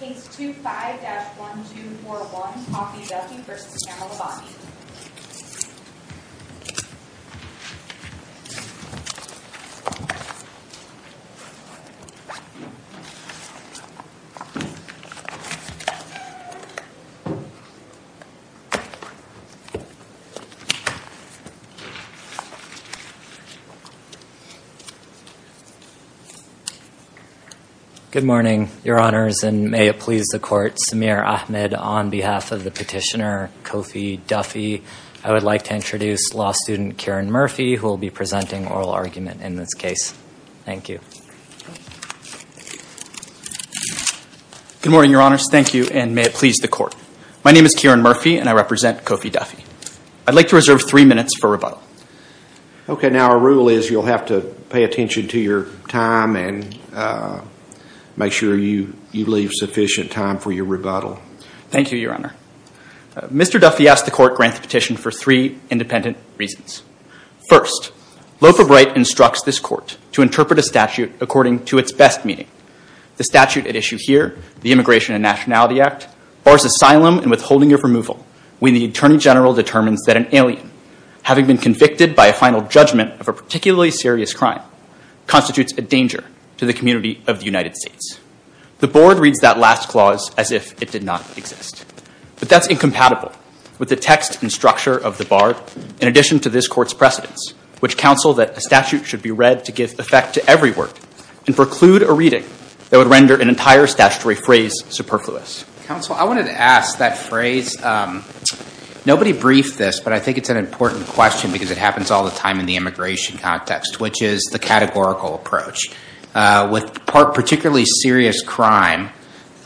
Case 25-1241, Koffi Duffi v. Pamela Bondi Good morning, Your Honors, and may it please the Court, Samir Ahmed, on behalf of the petitioner Koffi Duffi. I would like to introduce law student Karen Murphy, who will be presenting oral argument in this case. Thank you. Good morning, Your Honors. Thank you, and may it please the Court. My name is Karen Murphy, and I represent Koffi Duffi. I'd like to reserve three minutes for rebuttal. Okay, now our rule is you'll have to pay attention to your time and make sure you leave sufficient time for your rebuttal. Thank you, Your Honor. Mr. Duffi asked the Court grant the petition for three independent reasons. First, Lofa Bright instructs this Court to interpret a statute according to its best meaning. The statute at issue here, the Immigration and Nationality Act, bars asylum and withholding of removal when the Attorney General determines that an alien, having been convicted by a final judgment of a particularly serious crime, constitutes a danger to the community of the country. But that's incompatible with the text and structure of the bar in addition to this Court's precedence, which counsel that a statute should be read to give effect to every word and preclude a reading that would render an entire statutory phrase superfluous. Counsel, I wanted to ask that phrase. Nobody briefed this, but I think it's an important question because it happens all the time in the immigration context, which is the categorical approach. With particularly serious crime,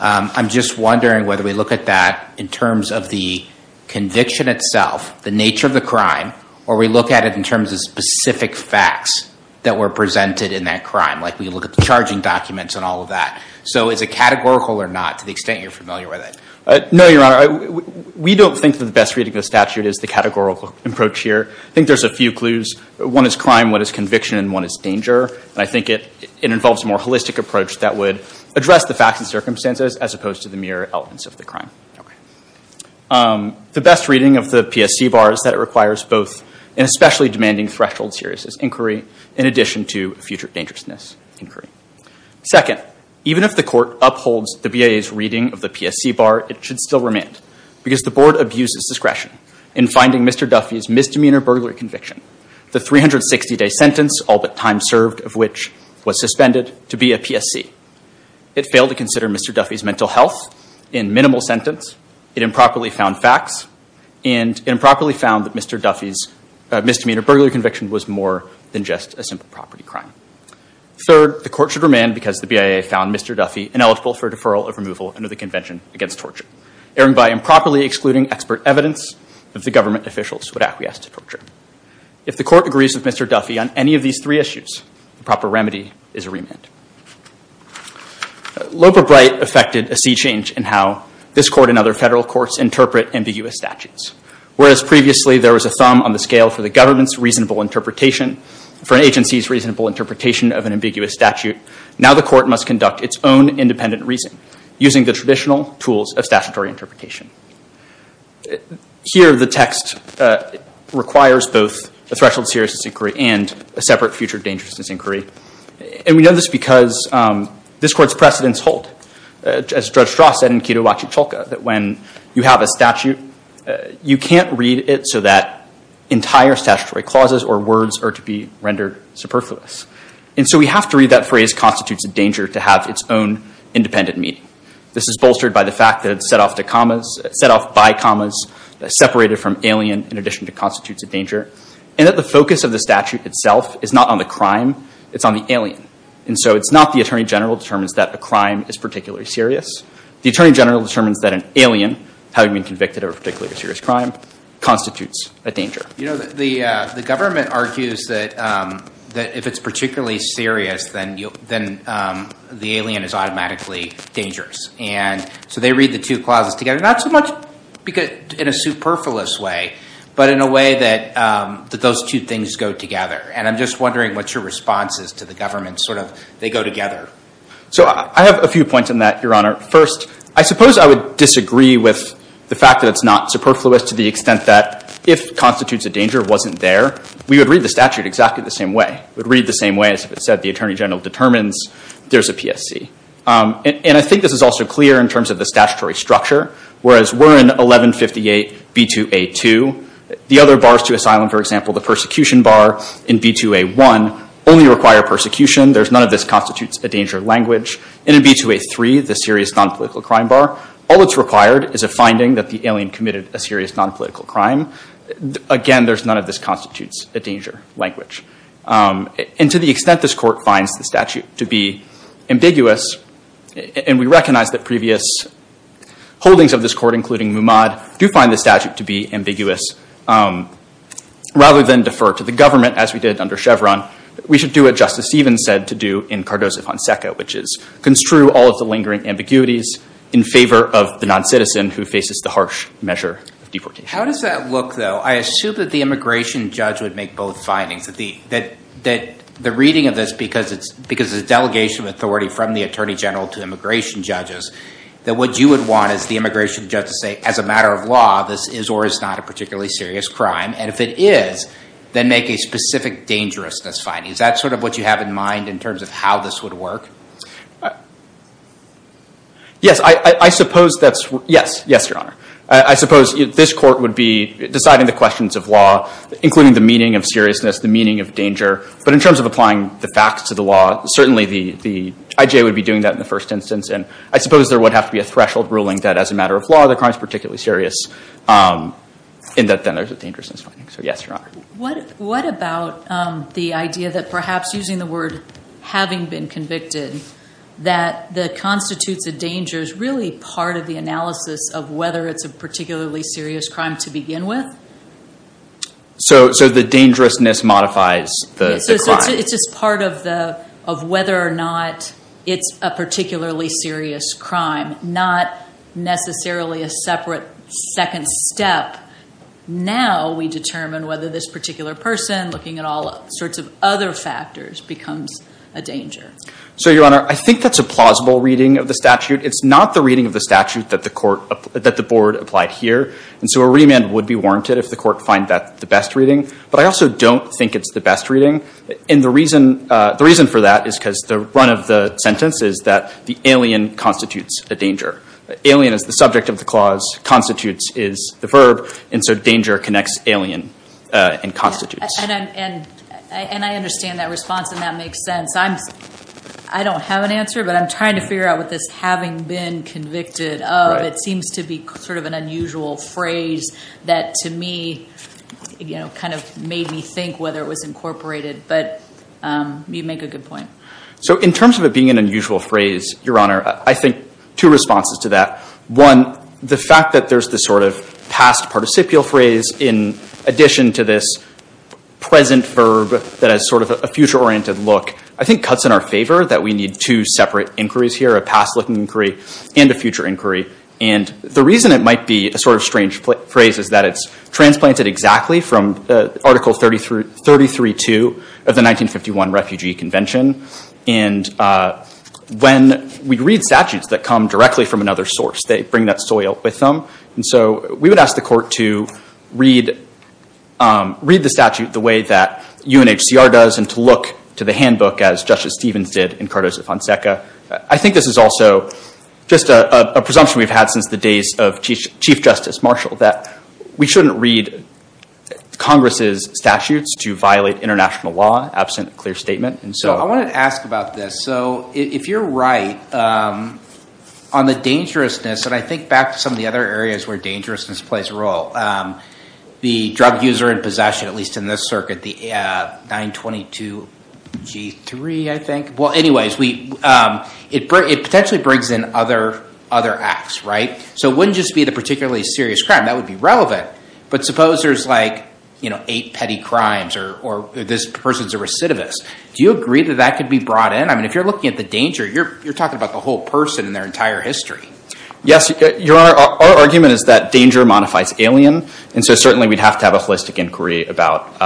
I'm just wondering whether we look at that in terms of the conviction itself, the nature of the crime, or we look at it in terms of specific facts that were presented in that crime, like we look at the charging documents and all of that. So is it categorical or not, to the extent you're familiar with it? No, Your Honor. We don't think that the best reading of the statute is the categorical approach here. I think there's a few clues. One is crime, one is conviction, and one is danger. And I think it involves a more holistic approach that would address the facts and circumstances as opposed to the mere elements of the crime. The best reading of the PSC bar is that it requires both an especially demanding threshold serious inquiry in addition to a future dangerousness inquiry. Second, even if the court upholds the BIA's reading of the PSC bar, it should still remand because the board abuses discretion in finding Mr. Duffy's misdemeanor burglary conviction, the 360-day sentence, all but time for Mr. Duffy's mental health in minimal sentence, it improperly found facts, and improperly found that Mr. Duffy's misdemeanor burglary conviction was more than just a simple property crime. Third, the court should remand because the BIA found Mr. Duffy ineligible for a deferral of removal under the Convention Against Torture, erring by improperly excluding expert evidence that the government officials would acquiesce to torture. If the court agrees with Mr. Duffy on any of these three issues, the proper remedy is a remand. Loeb or Bright affected a sea change in how this court and other federal courts interpret ambiguous statutes. Whereas previously there was a thumb on the scale for the government's reasonable interpretation, for an agency's reasonable interpretation of an ambiguous statute, now the court must conduct its own independent reasoning using the traditional tools of statutory interpretation. Here, the text requires both a threshold seriousness inquiry and a separate future dangerousness inquiry. And we know this because this court's precedents hold, as Judge Strauss said in Quido La Chicholca, that when you have a statute, you can't read it so that entire statutory clauses or words are to be rendered superfluous. And so we have to read that phrase constitutes a danger to have its own independent meaning. This is bolstered by the fact that it's set off by commas separated from alien in addition to constitutes a danger. And that the focus of the statute itself is not on the crime, it's on the alien. And so it's not the Attorney General determines that a crime is particularly serious. The Attorney General determines that an alien, having been convicted of a particularly serious crime, constitutes a danger. You know, the government argues that if it's particularly serious, then the alien is automatically dangerous. And so they read the two clauses together, not so much in a superfluous way, but in a way that those two things go together. And I'm just wondering what your response is to the government, sort of, they go together. So I have a few points on that, Your Honor. First, I suppose I would disagree with the fact that it's not superfluous to the extent that if constitutes a danger wasn't there, we would read the statute exactly the same way. We'd read the same way as if it said the Attorney General determines there's a PSC. And I think this is also clear in terms of the statutory structure. Whereas we're in 1158 B2A2, the other bars to asylum, for example, the persecution bar in B2A1 only require persecution. There's none of this constitutes a danger language. And in B2A3, the serious non-political crime bar, all that's required is a finding that the alien committed a serious non-political crime. Again, there's none of this constitutes a danger language. And to the extent this court finds the statute to be ambiguous, and we recognize that previous holdings of this court, including Muamad, do find the statute to be ambiguous. Rather than defer to the government, as we did under Chevron, we should do what Justice Stevens said to do in Cardozo-Fonseca, which is construe all of the lingering ambiguities in favor of the non-citizen who faces the harsh measure of deportation. How does that look, though? I assume that the immigration judge would make both findings, that the reading of this, because it's delegation of authority from the Attorney General to immigration judges, that what you would want is the immigration judge to say, as a matter of law, this is or is not a specific dangerousness finding. Is that sort of what you have in mind in terms of how this would work? Yes. I suppose that's, yes. Yes, Your Honor. I suppose this court would be deciding the questions of law, including the meaning of seriousness, the meaning of danger. But in terms of applying the facts to the law, certainly the IJ would be doing that in the first instance. And I suppose there would have to be a threshold ruling that, as a matter of law, the crime is particularly serious, and that then there's a dangerousness finding. So yes, Your Honor. What about the idea that, perhaps using the word having been convicted, that the constitutes of danger is really part of the analysis of whether it's a particularly serious crime to begin with? So the dangerousness modifies the crime. It's just part of whether or not it's a particularly serious crime, not necessarily a separate second step. Now we determine whether this particular person, looking at all sorts of other factors, becomes a danger. So, Your Honor, I think that's a plausible reading of the statute. It's not the reading of the statute that the board applied here. And so a remand would be warranted if the court find that the best reading. But I also don't think it's the best reading. And the reason for that is because the run of the sentence is that the alien constitutes a danger. Alien is the subject of the clause. Constitutes is the verb. And so danger connects alien and constitutes. And I understand that response, and that makes sense. I don't have an answer, but I'm trying to figure out what this having been convicted of, it seems to be sort of an unusual phrase that, to me, kind of made me think whether it was incorporated. But you make a good point. So in terms of it being an unusual phrase, Your Honor, I think two responses to that. One, the fact that there's this sort of past participial phrase in addition to this present verb that has sort of a future-oriented look, I think cuts in our favor that we need two separate inquiries here, a past-looking inquiry and a future inquiry. And the reason it might be a sort of strange phrase is that it's transplanted exactly from Article 33.2 of the 1951 Refugee Convention. And when we read statutes that come directly from another source, they bring that soil with them. And so we would ask the court to read the statute the way that UNHCR does and to look to the handbook as Justice Stevens did in Cardozo-Fonseca. I think this is also just a presumption we've had since the days of Chief Justice Marshall that we shouldn't read Congress's statutes to violate international law absent a clear statement. So I wanted to ask about this. So if you're right, on the dangerousness, and I think back to some of the other areas where dangerousness plays a role, the drug user in possession, at least in this circuit, the 922G3, I think. Well, anyways, it potentially brings in other acts, right? So it wouldn't just be the particularly serious crime. That would be relevant. But suppose there's like eight petty crimes or this person's a recidivist. Do you agree that that could be brought in? I mean, if you're looking at the danger, you're talking about the whole person and their entire history. Yes, Your Honor, our argument is that danger modifies alien. And so certainly we'd have to have a holistic inquiry about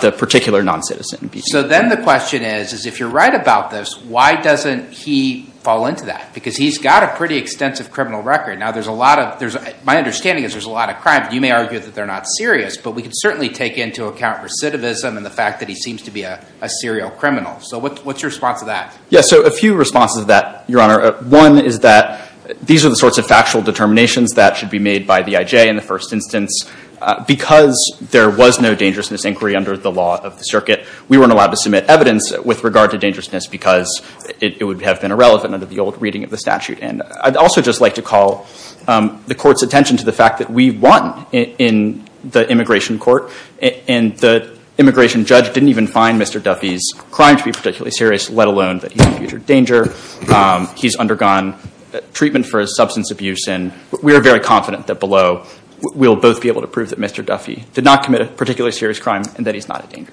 the particular non-citizen. So then the question is, if you're right about this, why doesn't he fall into that? Because he's got a pretty extensive criminal record. Now there's a lot of, my understanding is there's a lot of crimes. You may argue that they're not serious, but we can certainly take into account recidivism and the fact that he seems to be a serial criminal. So what's your response to that? Yes, so a few responses to that, Your Honor. One is that these are the sorts of factual determinations that should be made by the IJ in the first instance. Because there was no dangerousness inquiry under the law of the circuit, we weren't allowed to submit evidence with regard to dangerousness because it would have been irrelevant under the old reading of the statute. And I'd also just like to call the court's attention to the fact that we won in the immigration court. And the immigration judge didn't even find Mr. Duffy's crime to be particularly serious, let alone that he's a future danger. He's undergone treatment for his substance abuse. And we're very confident that below we'll both be able to prove that Mr. Duffy did not commit a particularly serious crime and that he's not a danger.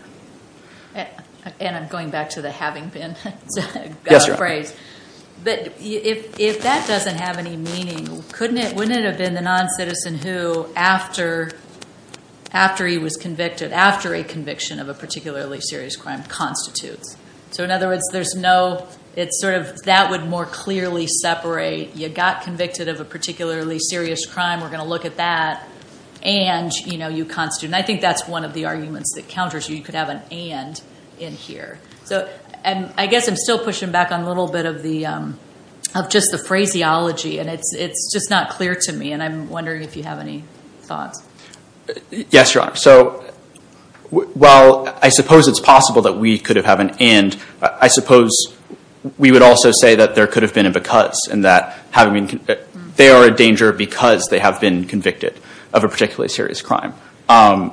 And I'm going back to the having been phrase. But if that doesn't have any meaning, wouldn't it have been the non-citizen who, after he was convicted, after a conviction of a particularly serious crime, constitutes? So in other words, there's no... that would more clearly separate, you got convicted of a particularly serious crime, we're going to look at that, and you constitute. And I think that's one of the arguments that counters you. You could have an and in here. And I guess I'm still pushing back on a little bit of just the phraseology. And it's just not clear to me. And I'm wondering if you have any thoughts. Yes, Your Honor. So while I suppose it's possible that we could have had an and, I suppose we would also say that there could have been a because. They are a danger because they have been convicted of a particularly serious crime. I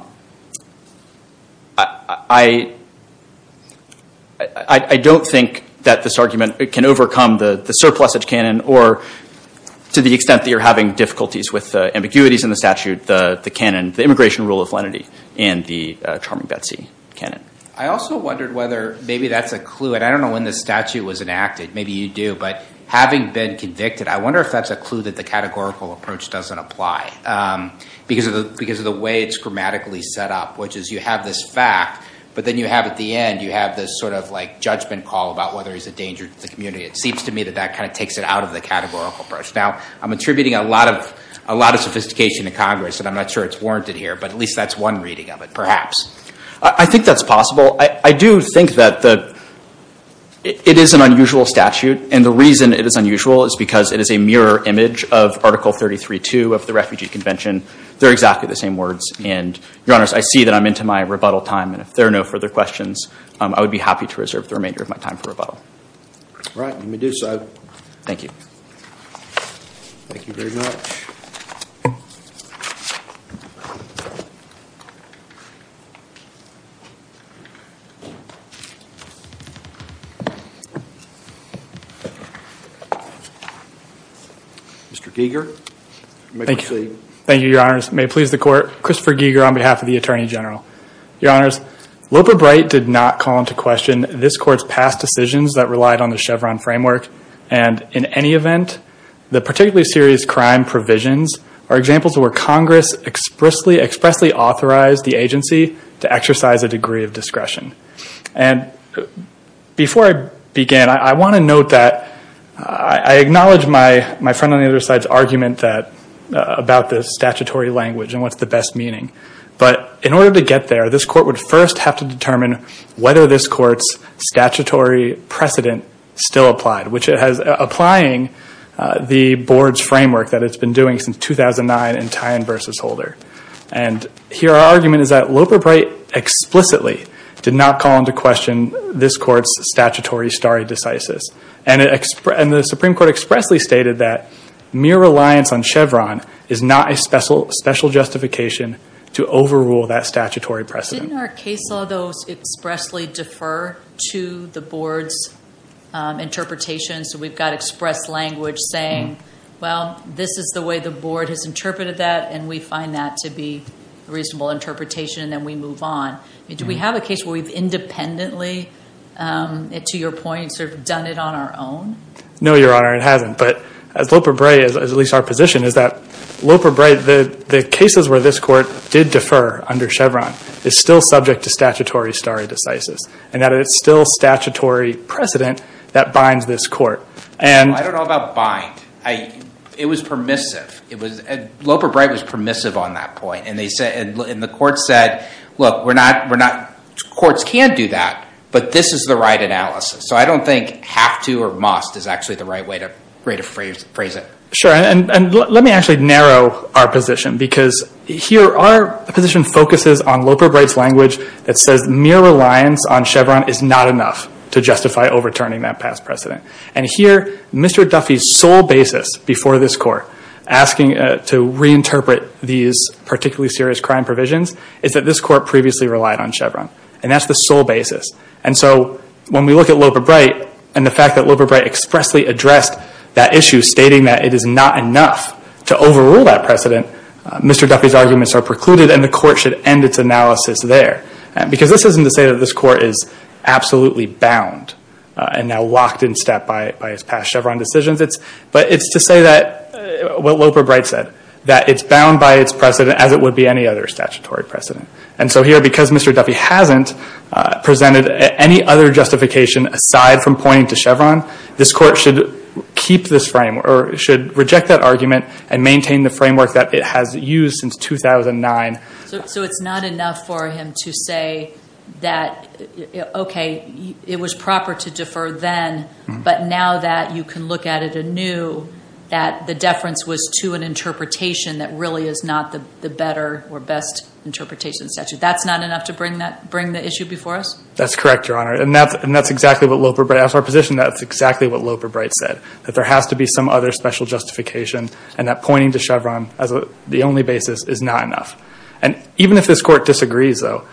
don't think that this argument can overcome the surplusage canon or to the extent that you're having difficulties with ambiguities in the statute, the canon, the immigration rule of lenity, and the charming Betsy canon. I also wondered whether maybe that's a clue. And I don't know when this statute was enacted. Maybe you do. But having been convicted, I wonder if that's a clue that the categorical approach doesn't apply. Because of the way it's grammatically set up, which is you have this fact, but then you have at the end, you have this sort of judgment call about whether he's a danger to the community. It seems to me that that kind of takes it out of the categorical approach. Now, I'm attributing a lot of sophistication to Congress. And I'm not sure it's warranted here. But at least that's one reading of it, perhaps. I think that's possible. I do think that it is an unusual statute. And the reason it is unusual is because it is a mirror image of Article 33.2 of the Refugee Convention. They're exactly the same words. And, Your Honors, I see that I'm into my rebuttal time. And if there are no further questions, I would be happy to reserve the remainder of my time for rebuttal. All right. Let me do so. Thank you. Thank you very much. Mr. Giger, you may proceed. Thank you, Your Honors. May it please the Court, Christopher Giger on behalf of the Attorney General. Your Honors, Loper Bright did not call into question this Court's past decisions that relied on the Chevron framework. And in any event, the particularly serious crime provisions are examples where Congress expressly authorized the agency to exercise a degree of discretion. Before I begin, I want to note that I acknowledge my friend on the other side's argument about the statutory language and what's the best meaning. But in order to get there, this Court would first have to determine whether this Court's statutory precedent still applied, which it has, applying the board's framework that it's been doing since 2009 in Tyne v. Holder. And here our argument is that Loper Bright explicitly did not call into question this Court's statutory stare decisis. And the Supreme Court expressly stated that mere reliance on Chevron is not a special justification to overrule that statutory precedent. Didn't our case law, though, expressly defer to the board's interpretation? So we've got express language saying, well, this is the way the board has interpreted that, and we find that to be a reasonable interpretation, and then we move on. Do we have a case where we've independently, to your point, done it on our own? No, Your Honor, it hasn't. But as Loper Bright, at least our position, is that Loper Bright, the cases where this Court did defer under Chevron is still subject to statutory stare decisis, and that it's still statutory precedent that binds this Court. I don't know about bind. It was permissive. Loper Bright was permissive on that point. And the Court said, look, courts can do that, but this is the right analysis. So I don't think have to or must is actually the right way to phrase it. Sure. And let me actually narrow our position, because here our position focuses on Loper Bright's language that says mere reliance on Chevron is not enough to justify overturning that past precedent. And here, Mr. Duffy's sole basis before this Court asking to reinterpret these particularly serious crime provisions is that this Court previously relied on Chevron. And that's the sole basis. And so when we look at Loper Bright and the fact that Loper Bright expressly addressed that issue stating that it is not enough to overrule that precedent, Mr. Duffy's arguments are precluded and the Court should end its analysis there. Because this isn't to say that this Court is absolutely bound and now locked in step by its past Chevron decisions. But it's to say that what Loper Bright said, that it's bound by its precedent as it would be any other statutory precedent. And so here, because Mr. Duffy hasn't presented any other justification aside from pointing to Chevron, this Court should keep this frame or should reject that argument and maintain the framework that it has used since 2009. So it's not enough for him to say that, okay, it was proper to defer then, but now that you can look at it anew, that the deference was to an interpretation that really is not the better or best interpretation statute. That's not enough to bring the issue before us? That's correct, Your Honor. And that's exactly what Loper Bright, that's our position, that's exactly what Loper Bright said. That there has to be some other special justification and that pointing to Chevron as the only basis is not enough. And even if this Court disagrees, though,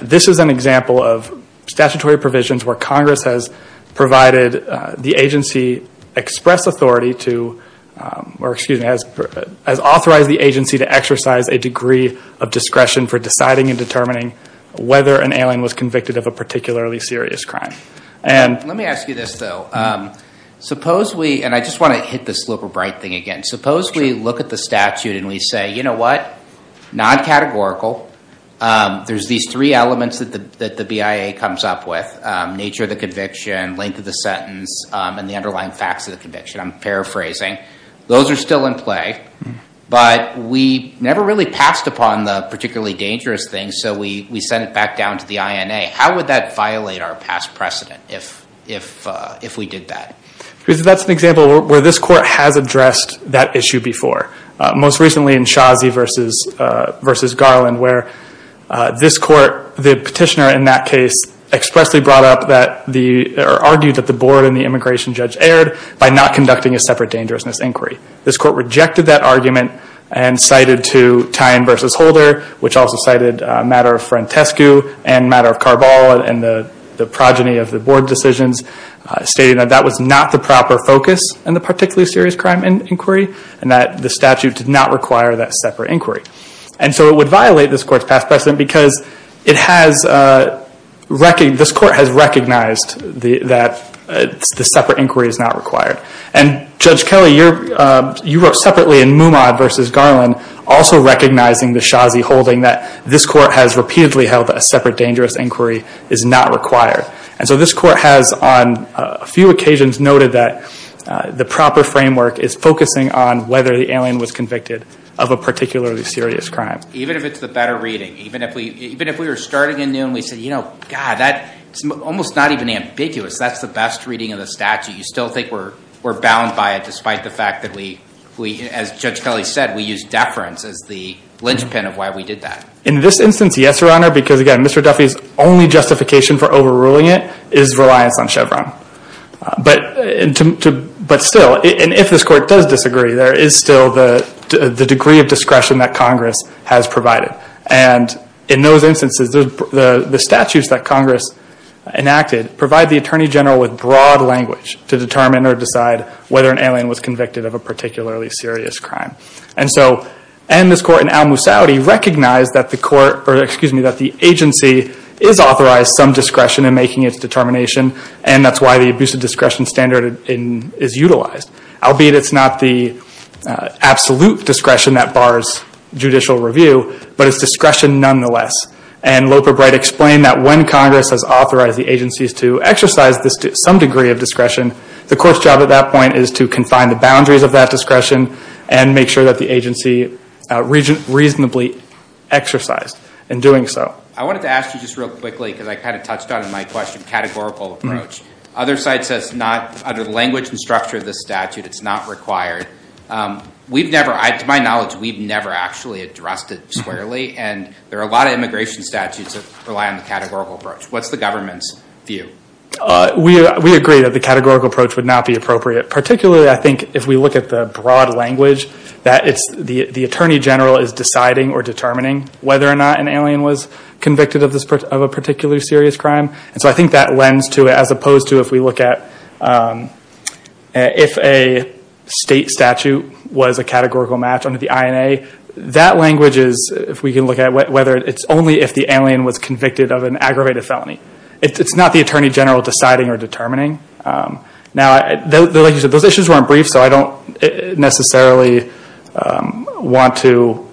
this is an example of statutory provisions where Congress has provided the agency express authority to, or excuse me, has authorized the agency to exercise a degree of discretion for deciding and determining whether an alien was convicted of a particularly serious crime. Let me ask you this, though. Suppose we, and I just want to hit this Loper Bright thing again, suppose we look at the statute and we say, you know what, non-categorical, there's these three elements that the BIA comes up with, nature of the conviction, length of the sentence, and the underlying facts of the conviction. I'm paraphrasing. Those are still in play, but we never really passed upon the particularly dangerous thing, so we sent it back down to the INA. How would that violate our past precedent if we did that? Because that's an example where this Court has addressed that issue before. Most recently in Shazi v. Garland, where this Court, the petitioner in that case, expressly brought up that or argued that the board and the immigration judge erred by not conducting a separate dangerousness inquiry. This Court rejected that argument and cited to Tyne v. Holder, which also cited a matter of Frantescu and a matter of Carball and the progeny of the board decisions, stating that that was not the proper focus in the particularly serious crime inquiry and that the statute did not require that separate inquiry. And so it would violate this Court's past precedent because it has, this Court has recognized that the separate inquiry is not required. And Judge Kelly, you wrote separately in Mumad v. Garland, also recognizing the Shazi holding that this Court has repeatedly held that a separate dangerous inquiry is not required. And so this Court has on a few occasions noted that the proper framework is focusing on whether the alien was convicted of a particularly serious crime. Even if it's the better reading, even if we were starting in noon and we said, you know, God, that's almost not even ambiguous. That's the best reading of the statute. You still think we're bound by it despite the fact that we, as Judge Kelly said, we used deference as the linchpin of why we did that. In this instance, yes, Your Honor, because again, Mr. Duffy's only justification for overruling it is reliance on Chevron. But still, and if this Court does disagree, there is still the degree of discretion that Congress has provided. And in those instances, the statutes that Congress enacted provide the Attorney General with broad language to determine or decide whether an alien was convicted of a particularly serious crime. And so, and this Court in Al-Musawwiri recognized that the agency is authorized some discretion in making its determination, and that's why the abusive discretion standard is utilized. Albeit it's not the absolute discretion that bars judicial review, but it's discretion nonetheless. And Loper Bright explained that when Congress has authorized the agencies to exercise some degree of discretion, the Court's job at that point is to confine the boundaries of that discretion and make sure that the agency reasonably exercised in doing so. I wanted to ask you just real quickly, because I kind of touched on it in my question, categorical approach. Other sites that's not, under the language and structure of this statute, it's not required. We've never, to my knowledge, we've never actually addressed it squarely, and there are a lot of immigration statutes that rely on the categorical approach. What's the government's view? We agree that the categorical approach would not be appropriate. Particularly, I think if we look at the broad language, that the Attorney General is deciding or determining whether or not an alien was convicted of a particular serious crime. So I think that lends to it, as opposed to if we look at if a state statute was a categorical match under the INA, that language is, if we can look at it, it's only if the alien was convicted of an aggravated felony. It's not the Attorney General deciding or determining. Now, like you said, those issues weren't brief, so I don't necessarily want to,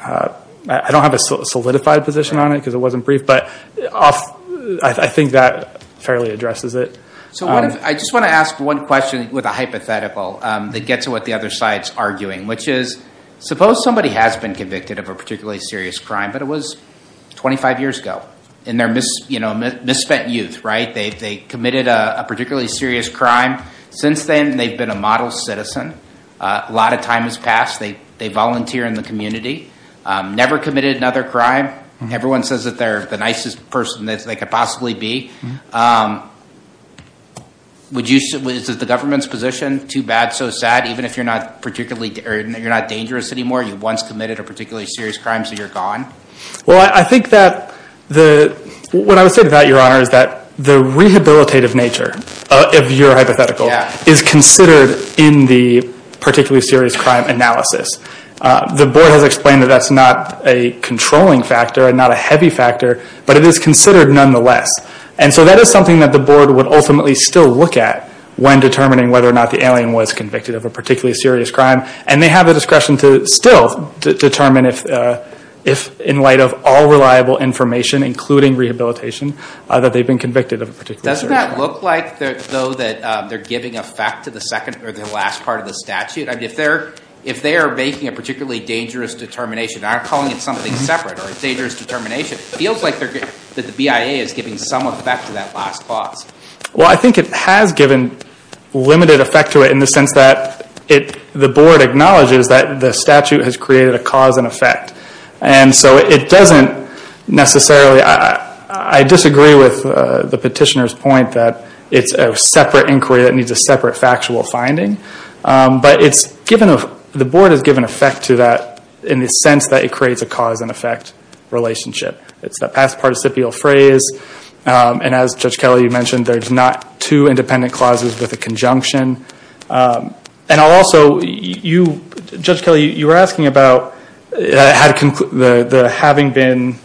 I don't have a solidified position on it, because it wasn't brief, but I think that fairly addresses it. So I just want to ask one question with a hypothetical that gets at what the other side's arguing, which is, suppose somebody has been convicted of a particularly serious crime, but it was 25 years ago, and they're misspent youth, right? They committed a particularly serious crime. Since then, they've been a model citizen. A lot of time has passed. They volunteer in the community. Never committed another crime. Everyone says that they're the nicest person that they could possibly be. Is it the government's position? Too bad, so sad, even if you're not dangerous anymore? You once committed a particularly serious crime, so you're gone? Well, I think that the, what I would say to that, Your Honor, is that the rehabilitative nature of your hypothetical is considered in the particularly serious crime analysis. The board has explained that that's not a controlling factor and not a heavy factor, but it is considered nonetheless. And so that is something that the board would ultimately still look at when determining whether or not the alien was convicted of a particularly serious crime. And they have the discretion to still determine if in light of all reliable information, including rehabilitation, that they've been convicted of a particularly serious crime. Doesn't that look like, though, that they're giving effect to the second or the last part of the statute? I mean, if they're making a particularly dangerous determination, and I'm calling it something separate or a dangerous determination, it feels like the BIA is giving some effect to that last clause. Well, I think it has given limited effect to it in the sense that the board acknowledges that the statute has created a cause and effect. And so it doesn't necessarily, I disagree with the petitioner's point that it's a separate inquiry that needs a separate factual finding. But the board has given effect to that in the sense that it creates a cause and effect relationship. It's a past participial phrase. And as Judge Kelly, you mentioned, there's not two independent clauses with a conjunction. And also, Judge Kelly, you were asking about having been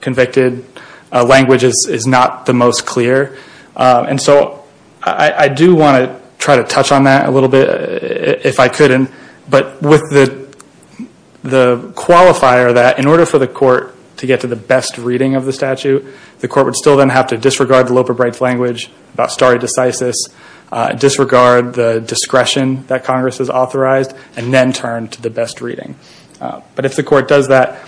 convicted, language is not the most clear. And so I do want to try to touch on that a little bit, if I could. But with the qualifier that in order for the court to get to the best reading of the statute, the court would still then have to disregard the Loper-Briggs language about stare decisis, disregard the discretion that Congress has authorized, and then turn to the best reading. But if the court does that,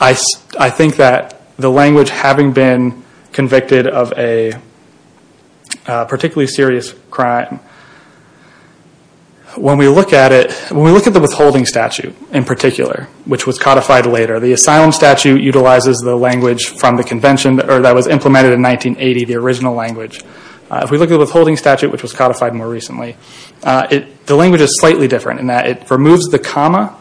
I think that the language having been convicted of a particularly serious crime, when we look at it, when we look at the withholding statute in particular, which was codified later, the asylum statute utilizes the language from the convention that was implemented in 1980, the original language. If we look at the withholding statute, which was codified more recently, the language is slightly different in that it removes the comma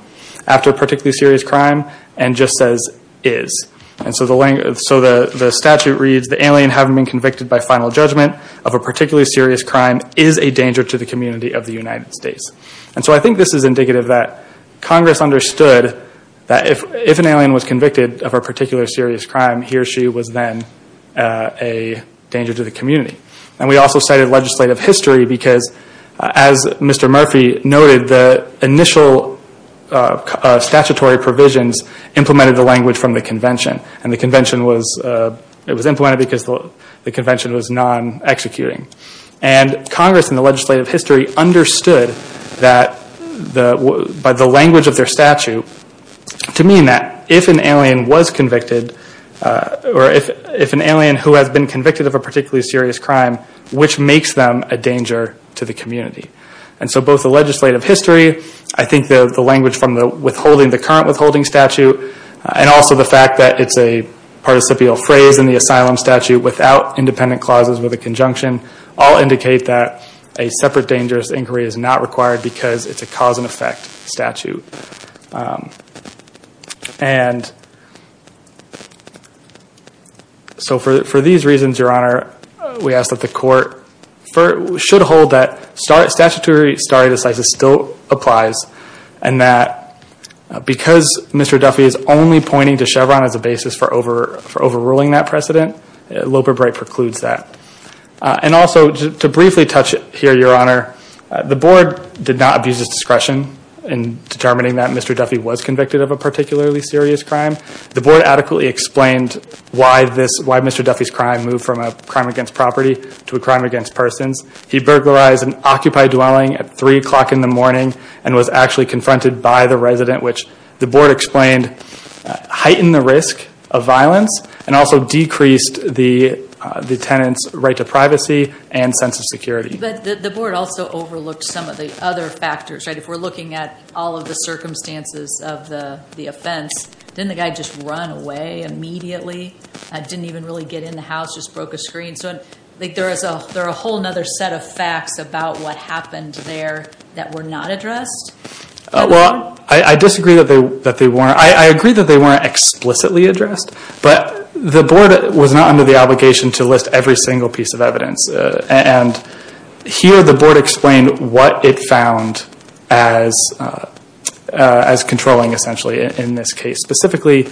after a particularly serious crime and just says, is. And so the statute reads, the alien having been convicted by final judgment of a particularly serious crime is a danger to the community of the United States. And so I think this is indicative that Congress understood that if an alien was convicted of a particular serious crime, he or she was then a danger to the community. And we also cited legislative history because as Mr. Murphy noted, the initial statutory provisions implemented the language from the convention. And the convention was, it was implemented because the convention was non-executing. And Congress in the legislative history understood that, by the language of their statute, to mean that if an alien was convicted, or if an alien who has been convicted of a particularly serious crime, which makes them a danger to the community. And so both the legislative history, I think the language from the withholding, the current withholding statute, and also the fact that it's a participial phrase in the asylum statute without independent clauses with a conjunction, all indicate that a separate and so for these reasons, Your Honor, we ask that the court should hold that statutory stare decisis still applies and that because Mr. Duffy is only pointing to Chevron as a basis for overruling that precedent, Loper Bright precludes that. And also to briefly touch here, Your Honor, the board did not abuse its discretion in determining that Mr. Duffy was convicted of a particularly serious crime. The board adequately explained why Mr. Duffy's crime moved from a crime against property to a crime against persons. He burglarized an occupied dwelling at 3 o'clock in the morning and was actually confronted by the resident, which the board explained heightened the risk of violence and also decreased the tenant's right to privacy and sense of security. But the board also overlooked some of the other factors, right? If we're looking at all of the circumstances of the offense, didn't the guy just run away immediately? Didn't even really get in the house, just broke a screen? So there are a whole other set of facts about what happened there that were not addressed? Well, I disagree that they under the obligation to list every single piece of evidence. And here the board explained what it found as controlling, essentially, in this case. Specifically,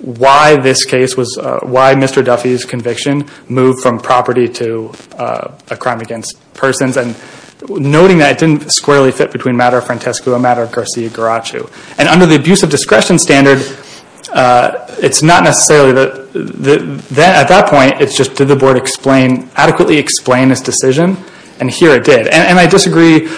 why this case was, why Mr. Duffy's conviction moved from property to a crime against persons and noting that it didn't squarely fit between a matter of Francesco, a matter of Garcia-Garrachu. And under the discretion standard, it's not necessarily, at that point, it's just did the board adequately explain this decision? And here it did. And I disagree,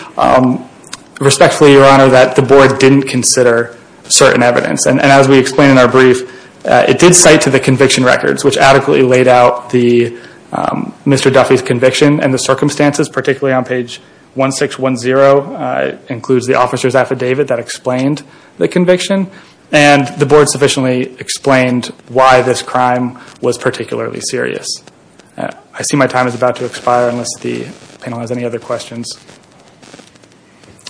respectfully, Your Honor, that the board didn't consider certain evidence. And as we explained in our brief, it did cite to the conviction records, which adequately laid out Mr. Duffy's conviction and the circumstances, particularly on page 1610. It includes the officer's affidavit that explained the conviction. And the board sufficiently explained why this crime was particularly serious. I see my time is about to expire unless the panel has any other questions.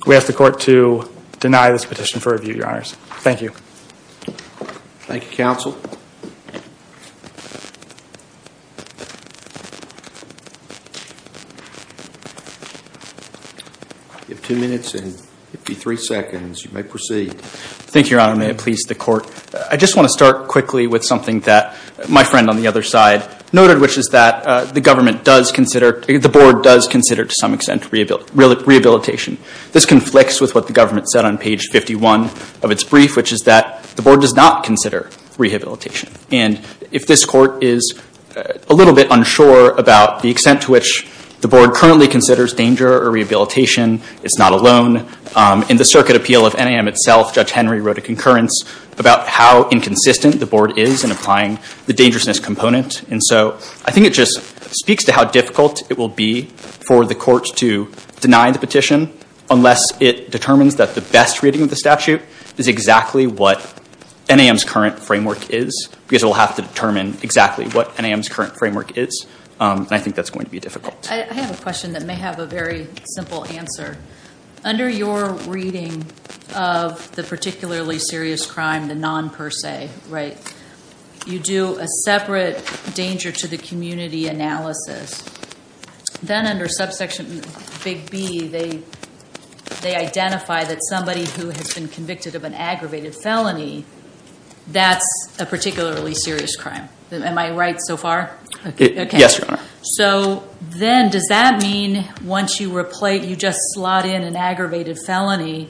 We ask the court to deny this petition for review, Your Honors. Thank you. Thank you, counsel. You have two minutes and 53 seconds. You may proceed. Thank you, Your Honor. May it please the court. I just want to start quickly with something that my friend on the other side noted, which is that the government does consider, the board does consider to some extent rehabilitation. This conflicts with what the government said on page 51 of its brief, which is that the board does not consider rehabilitation. And if this court is a little bit unsure about the extent to which the board currently considers danger or rehabilitation, it's not alone. In the circuit appeal of NAM itself, Judge Henry wrote a concurrence about how inconsistent the board is in applying the dangerousness component. And so I think it just speaks to how difficult it will be for the court to deny the petition unless it determines that the best reading of the statute is exactly what NAM's current framework is. Because it will have to determine exactly what NAM's current framework is. And I think that's going to be difficult. I have a question that may have a very simple answer. Under your reading of the particularly serious crime, the non-per se, you do a separate danger to the community analysis. Then under subsection big B, they identify that somebody who has been convicted of an aggravated felony, that's a particularly serious crime. Am I right so far? Yes, Your Honor. So then does that mean once you just slot in an aggravated felony,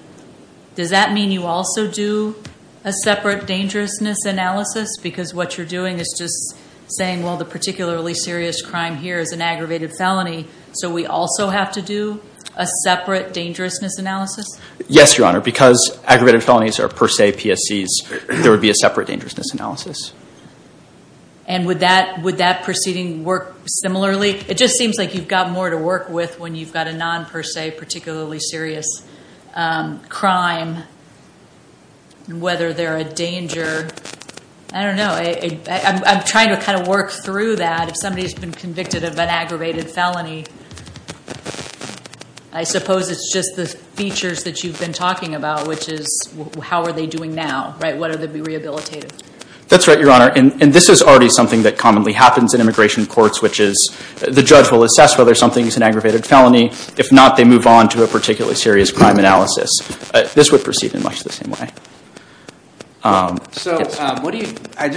does that mean you also do a separate dangerousness analysis? Because what you're doing is just saying, well, the particularly serious crime here is an aggravated felony, so we also have to do a separate dangerousness analysis? Yes, Your Honor. Because aggravated felonies are per se PSCs, there would be a separate dangerousness analysis. And would that proceeding work similarly? It just seems like you've got more to work with when you've got a non-per se, particularly serious crime, whether they're a danger. I don't know. I'm trying to kind of work through that. If somebody's been convicted of an aggravated felony, I suppose it's just the features that you've been talking about, which is how are they doing now? What are they rehabilitated? That's right, Your Honor. And this is already something that commonly happens in immigration courts, which is the judge will assess whether something is an aggravated felony. If not, they move on to a particularly serious crime So I just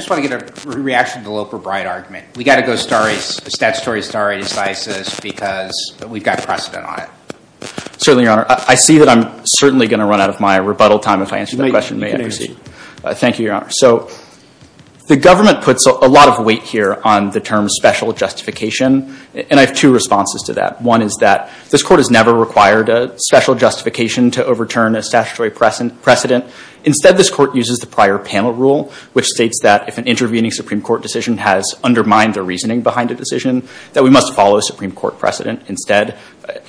want to get a reaction to the Loper-Bride argument. We've got to go statutory stare decisis because we've got precedent on it. Certainly, Your Honor. I see that I'm certainly going to run out of my rebuttal time if I answer that question. Thank you, Your Honor. So the government puts a lot of weight here on the term special justification, and I have two responses to that. One is that this court has never required a special justification to overturn a statutory precedent. Instead, this court uses the prior panel rule, which states that if an intervening Supreme Court decision has undermined the reasoning behind a decision, that we must follow Supreme Court precedent instead.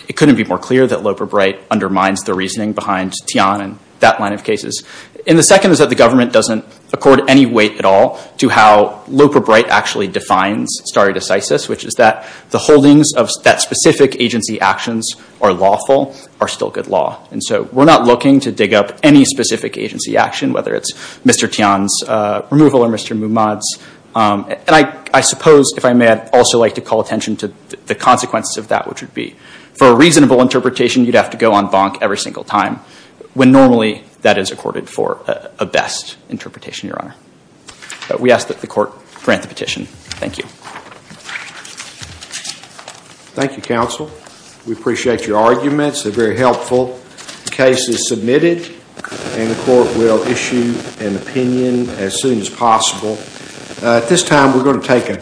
It couldn't be more clear that Loper-Bride undermines the reasoning behind Tian and that line of cases. And the second is that the government doesn't accord any weight at all to how Loper-Bride actually defines stare decisis, which is that the holdings that specific agency actions are lawful are still good law. And so we're not looking to dig up any specific agency action, whether it's Mr. Tian's removal or Mr. Mumad's. And I suppose, if I may, I'd also like to call attention to the consequences of that, which would be for a reasonable interpretation, you'd have to go on bonk every single time when normally that is accorded for a best interpretation, Your Honor. We ask that the court grant the petition. Thank you. Thank you, counsel. We appreciate your arguments. They're very helpful. The case is submitted and the court will issue an opinion as soon as possible.